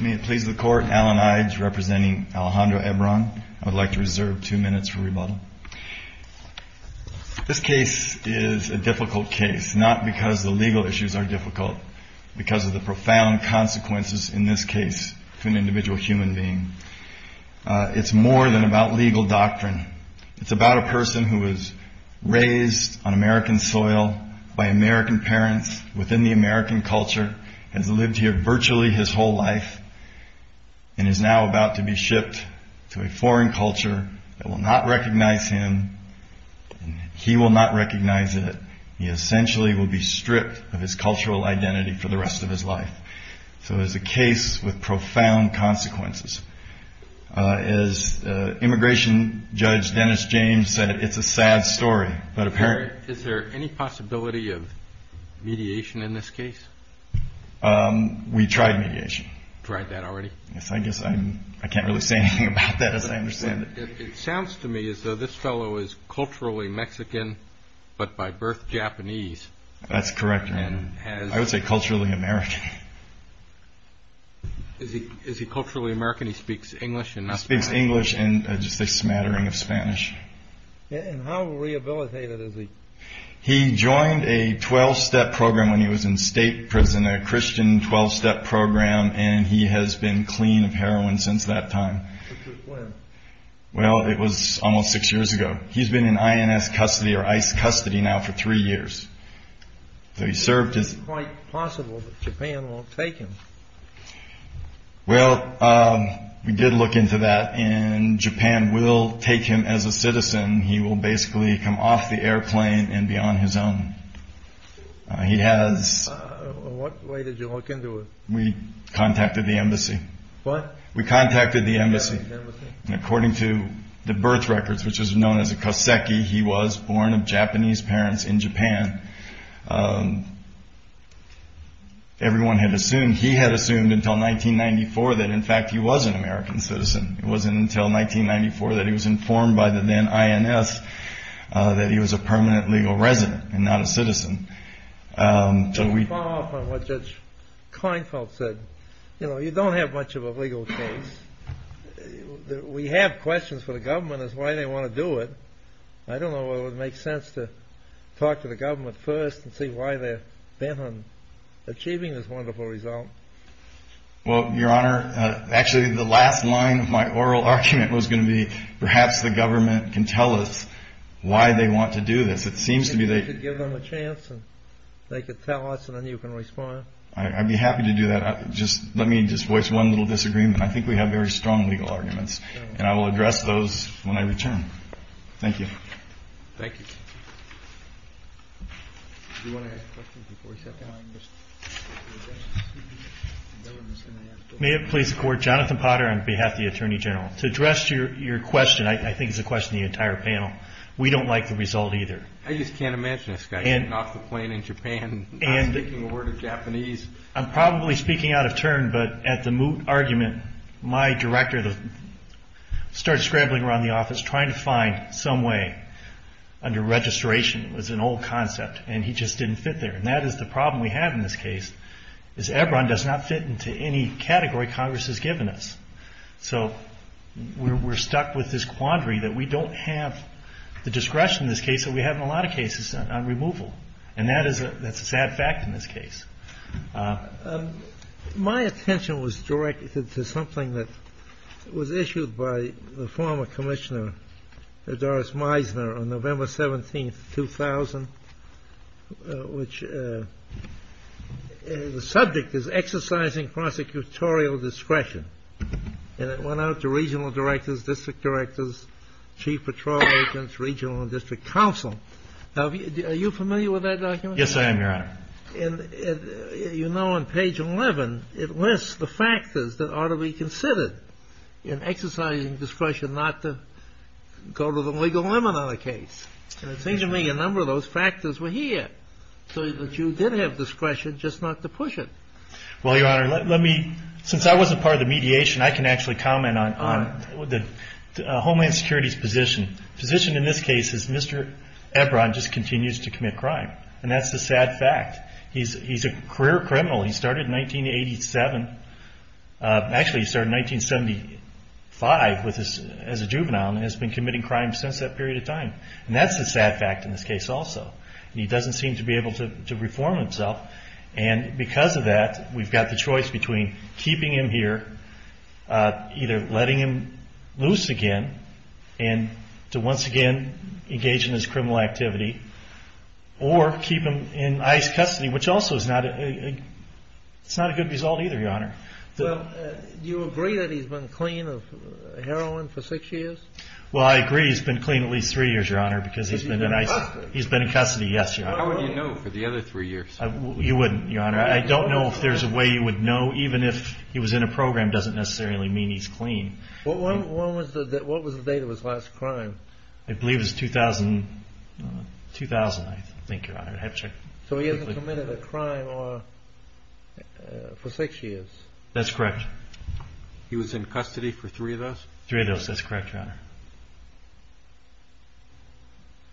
May it please the Court, Alan Ides representing Alejandro Ebron. I'd like to reserve two minutes for rebuttal. This case is a difficult case, not because the legal issues are difficult, but because of the profound consequences in this case to an individual human being. It's more than about legal doctrine. It's about a person who was raised on American soil by American parents within the American culture, has lived here virtually his whole life, and is now about to be shipped to a foreign culture that will not recognize him, and he will not recognize it. He essentially will be stripped of his cultural identity for the rest of his life. So it's a case with profound consequences. As Immigration Judge Dennis James said, it's a sad story. Is there any possibility of mediation in this case? We tried mediation. Tried that already? Yes, I guess I can't really say anything about that as I understand it. It sounds to me as though this fellow is culturally Mexican, but by birth Japanese. That's correct, Your Honor. I would say culturally American. Is he culturally American? He speaks English? He speaks English and just a smattering of Spanish. And how rehabilitated is he? He joined a 12-step program when he was in state prison, a Christian 12-step program, and he has been clean of heroin since that time. Which was when? Well, it was almost six years ago. He's been in INS custody or ICE custody now for three years. It's quite possible that Japan won't take him. Well, we did look into that, and Japan will take him as a citizen. He will basically come off the airplane and be on his own. He has... What way did you look into it? We contacted the embassy. What? We contacted the embassy, and according to the birth records, which is known as a Koseki, he was born of Japanese parents in Japan. Everyone had assumed, he had assumed until 1994 that, in fact, he was an American citizen. It wasn't until 1994 that he was informed by the then INS that he was a permanent legal resident and not a citizen. To follow up on what Judge Kleinfeld said, you know, you don't have much of a legal case. We have questions for the government as to why they want to do it. I don't know whether it would make sense to talk to the government first and see why they're bent on achieving this wonderful result. Well, Your Honor, actually the last line of my oral argument was going to be perhaps the government can tell us why they want to do this. It seems to me they... They could give them a chance, and they could tell us, and then you can respond. I'd be happy to do that. Let me just voice one little disagreement. I think we have very strong legal arguments, and I will address those when I return. Thank you. Thank you. May it please the Court, Jonathan Potter on behalf of the Attorney General. To address your question, I think it's a question of the entire panel, we don't like the result either. I just can't imagine this guy getting off the plane in Japan and not speaking a word of Japanese. I'm probably speaking out of turn, but at the moot argument, my director started scrambling around the office trying to find some way under registration. It was an old concept, and he just didn't fit there. And that is the problem we have in this case, is EBRON does not fit into any category Congress has given us. So we're stuck with this quandary that we don't have the discretion in this case that we have in a lot of cases on removal, and that's a sad fact in this case. My attention was directed to something that was issued by the former Commissioner Doris Meisner on November 17, 2000, which the subject is exercising prosecutorial discretion. And it went out to regional directors, district directors, chief patrol agents, regional and district counsel. Are you familiar with that document? Yes, I am, Your Honor. And you know on page 11, it lists the factors that ought to be considered in exercising discretion not to go to the legal limit on a case. And it seems to me a number of those factors were here, so that you did have discretion just not to push it. Well, Your Honor, let me, since I wasn't part of the mediation, I can actually comment on Homeland Security's position. The position in this case is Mr. EBRON just continues to commit crime, and that's a sad fact. He's a career criminal. He started in 1987. Actually, he started in 1975 as a juvenile and has been committing crimes since that period of time. And that's a sad fact in this case also. He doesn't seem to be able to reform himself. And because of that, we've got the choice between keeping him here, either letting him loose again, and to once again engage in his criminal activity, or keep him in ICE custody, which also is not a good result either, Your Honor. Well, do you agree that he's been clean of heroin for six years? Well, I agree he's been clean at least three years, Your Honor, because he's been in ICE. Has he been in custody? He's been in custody, yes, Your Honor. How would you know for the other three years? You wouldn't, Your Honor. I don't know if there's a way you would know. Even if he was in a program, it doesn't necessarily mean he's clean. What was the date of his last crime? I believe it was 2000, I think, Your Honor. So he hasn't committed a crime for six years? That's correct. He was in custody for three of those? Three of those. That's correct, Your Honor.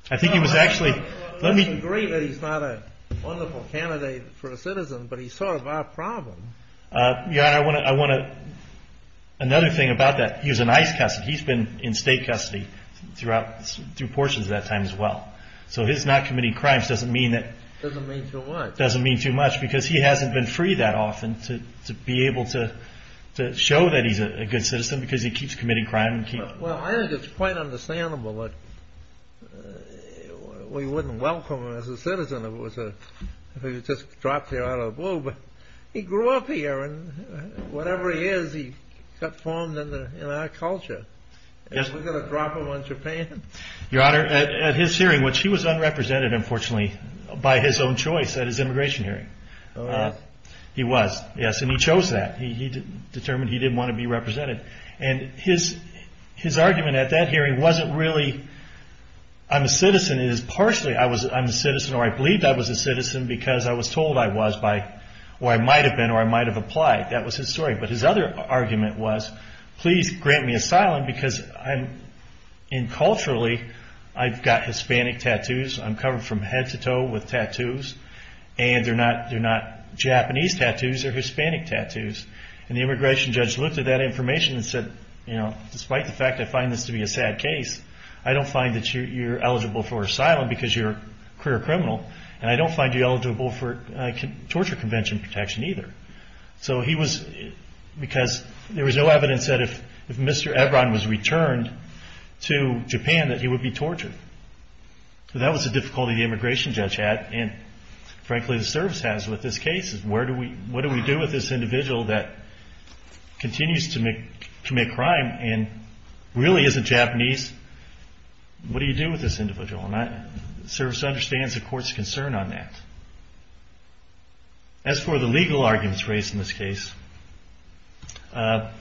I think he was actually... Let me agree that he's not a wonderful candidate for a citizen, but he's sort of our problem. Your Honor, I want to... Another thing about that, he was in ICE custody. He's been in state custody through portions of that time as well. So his not committing crimes doesn't mean that... Doesn't mean too much. Doesn't mean too much because he hasn't been freed that often to be able to show that he's a good citizen because he keeps committing crime. Well, I think it's quite understandable that we wouldn't welcome him as a citizen if he was just dropped here out of the blue. But he grew up here, and whatever he is, he got formed in our culture. We're going to drop him on Japan? Your Honor, at his hearing, which he was unrepresented, unfortunately, by his own choice at his immigration hearing. He was? He was, yes, and he chose that. He determined he didn't want to be represented. And his argument at that hearing wasn't really, I'm a citizen, it is partially, I'm a citizen or I believed I was a citizen because I was told I was by... Or I might have been or I might have applied. That was his story. But his other argument was, please grant me asylum because I'm... And culturally, I've got Hispanic tattoos. I'm covered from head to toe with tattoos. And they're not Japanese tattoos, they're Hispanic tattoos. And the immigration judge looked at that information and said, despite the fact I find this to be a sad case, I don't find that you're eligible for asylum because you're a career criminal and I don't find you eligible for torture convention protection either. So he was... Because there was no evidence that if Mr. Ebron was returned to Japan that he would be tortured. So that was the difficulty the immigration judge had and, frankly, the service has with this case. What do we do with this individual that continues to commit crime and really isn't Japanese? What do you do with this individual? And the service understands the court's concern on that. As for the legal arguments raised in this case, Mr.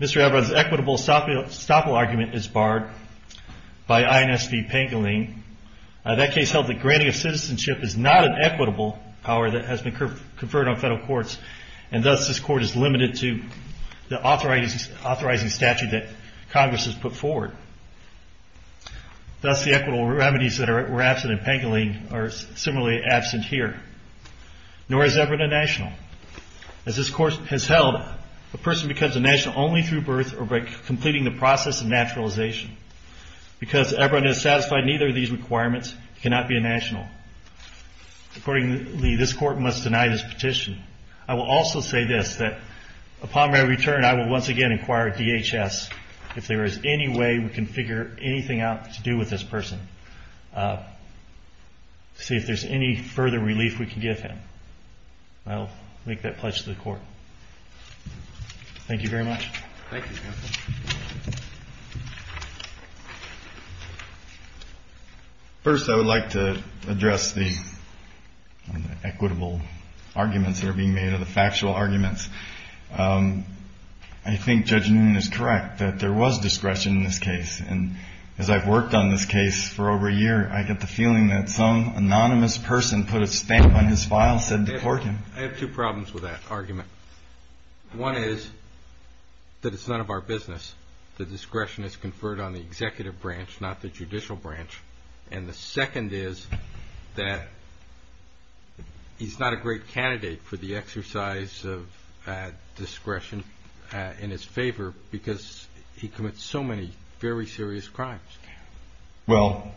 Ebron's equitable estoppel argument is barred by INSP Pangolin. That case held that granting of citizenship is not an equitable power that has been conferred on federal courts and thus this court is limited to the authorizing statute that Congress has put forward. Thus the equitable remedies that were absent in Pangolin are similarly absent here. Nor is Ebron a national. As this court has held, a person becomes a national only through birth or by completing the process of naturalization. Because Ebron has satisfied neither of these requirements, he cannot be a national. Accordingly, this court must deny this petition. I will also say this, that upon my return I will once again inquire at DHS if there is any way we can figure anything out to do with this person. See if there's any further relief we can give him. And I'll make that pledge to the court. Thank you very much. First I would like to address the equitable arguments that are being made of the factual arguments. I think Judge Noonan is correct that there was discretion in this case. And as I've worked on this case for over a year, I get the feeling that some anonymous person put a stamp on his file and said to court him. I have 2 problems with that argument. One is, that it's none of our business. The discretion is conferred on the executive branch, not the judicial branch. And the second is, that he's not a great candidate for the exercise of discretion in his favor because he commits so many very serious crimes. Well,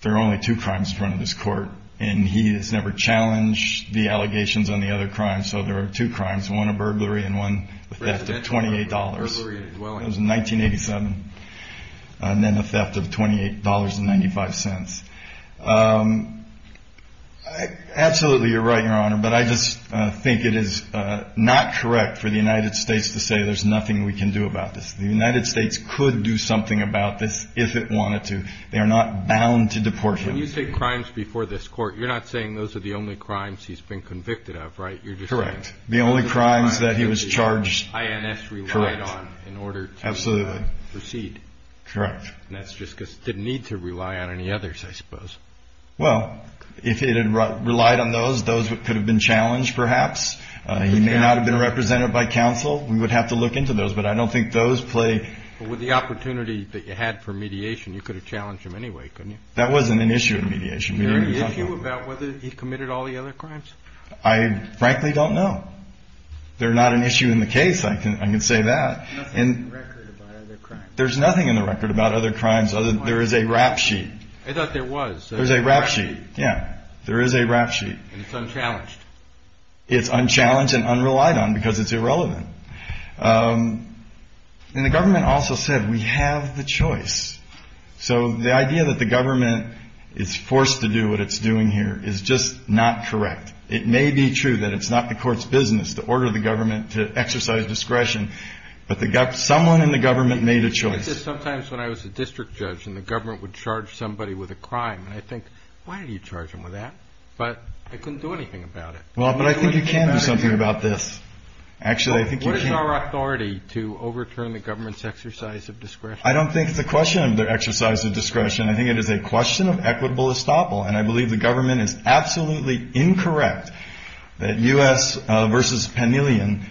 there are only 2 crimes in front of this court. And he has never challenged the allegations on the other crimes. So there are 2 crimes. One a burglary and one a theft of $28. It was in 1987. And then a theft of $28.95. Absolutely you're right, Your Honor. But I just think it is not correct for the United States to say there's nothing we can do about this. The United States could do something about this if it wanted to. They are not bound to deport him. When you say crimes before this court, you're not saying those are the only crimes he's been convicted of, right? Correct. The only crimes that he was charged with. Correct. And that's just because he didn't need to rely on any others, I suppose. Well, if he had relied on those, those could have been challenged perhaps. He may not have been represented by counsel. We would have to look into those, but I don't think those play... With the opportunity that you had for mediation, you could have challenged him anyway, couldn't you? That wasn't an issue in mediation. Is there an issue about whether he committed all the other crimes? I frankly don't know. They're not an issue in the case, I can say that. There's nothing in the record about other crimes other than there is a rap sheet. I thought there was. There is a rap sheet. Yeah, there is a rap sheet. And it's unchallenged? It's unchallenged and unrelied on because it's irrelevant. And the government also said, we have the choice. So the idea that the government is forced to do what it's doing here is just not correct. It may be true that it's not the court's business to order the government to exercise discretion, but someone in the government made a choice. I get this sometimes when I was a district judge and the government would charge somebody with a crime. And I think, why did you charge him with that? But I couldn't do anything about it. Well, but I think you can do something about this. What is our authority to overturn the government's exercise of discretion? I don't think it's a question of their exercise of discretion. I think it is a question of equitable estoppel. And I believe the government is absolutely incorrect that U.S. v. Pamelian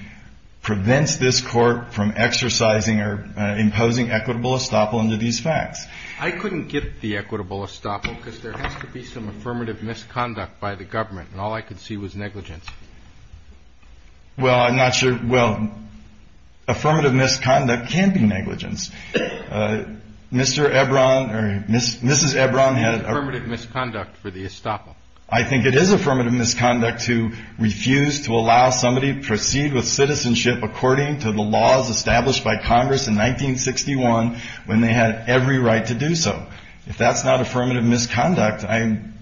prevents this court from exercising or imposing equitable estoppel under these facts. I couldn't get the equitable estoppel because there has to be some affirmative misconduct by the government and all I could see was negligence. Well, affirmative misconduct can be negligence. Mrs. Ebron had... Affirmative misconduct for the estoppel. I think it is affirmative misconduct to refuse to allow somebody to proceed with citizenship according to the laws established by Congress in 1961 when they had every right to do so. If that's not affirmative misconduct, I'm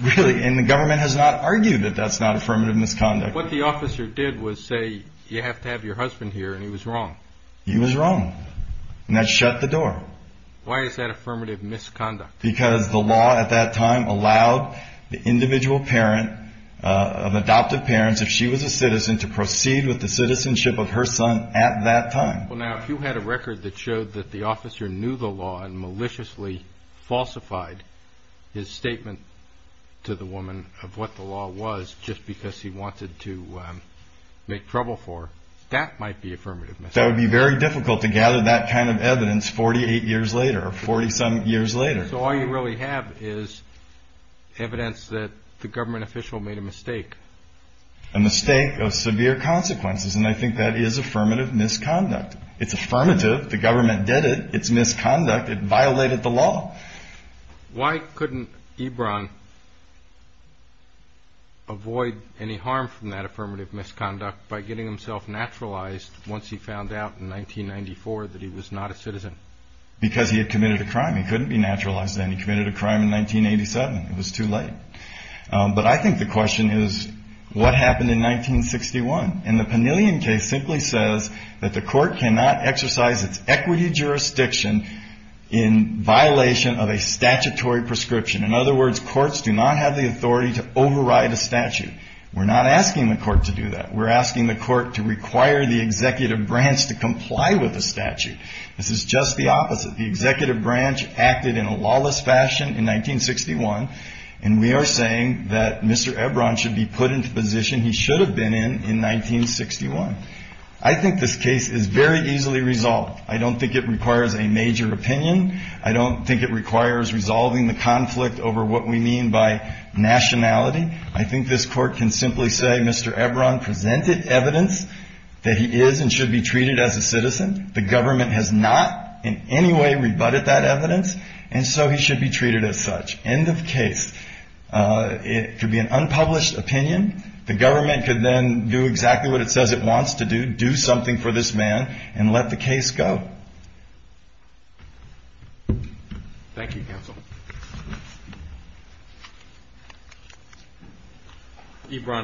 really... And the government has not argued that that's not affirmative misconduct. What the officer did was say, you have to have your husband here, and he was wrong. He was wrong. And that shut the door. Why is that affirmative misconduct? Because the law at that time allowed the individual parent of adoptive parents, if she was a citizen, to proceed with the citizenship of her son at that time. Well, now, if you had a record that showed that the officer knew the law and maliciously falsified his statement to the woman of what the law was just because he wanted to make trouble for her, that might be affirmative misconduct. That would be very difficult to gather that kind of evidence 48 years later or 40-some years later. So all you really have is evidence that the government official made a mistake. A mistake of severe consequences, and I think that is affirmative misconduct. It's affirmative. The government did it. It's misconduct. It violated the law. Why couldn't Ebron avoid any harm from that affirmative misconduct by getting himself naturalized once he found out in 1994 that he was not a citizen? Because he had committed a crime. He couldn't be naturalized then. He committed a crime in 1987. It was too late. But I think the question is, what happened in 1961? And the Panillion case simply says that the court cannot exercise its equity jurisdiction in violation of a statutory prescription. In other words, courts do not have the authority to override a statute. We're not asking the court to do that. We're asking the court to require the executive branch to comply with the statute. This is just the opposite. The executive branch acted in a lawless fashion in 1961 and we are saying that Mr. Ebron should be put into position he should have been in in 1961. I think this case is very easily resolved. I don't think it requires a major opinion. I don't think it requires resolving the conflict over what we mean by nationality. I think this court can simply say Mr. Ebron presented evidence that he is and should be treated as a citizen. The government has not in any way rebutted that evidence and so he should be treated as such. End of case. It could be an unpublished opinion. The government could then do exactly what it says it wants to do. Do something for this man and let the case go. Thank you counsel.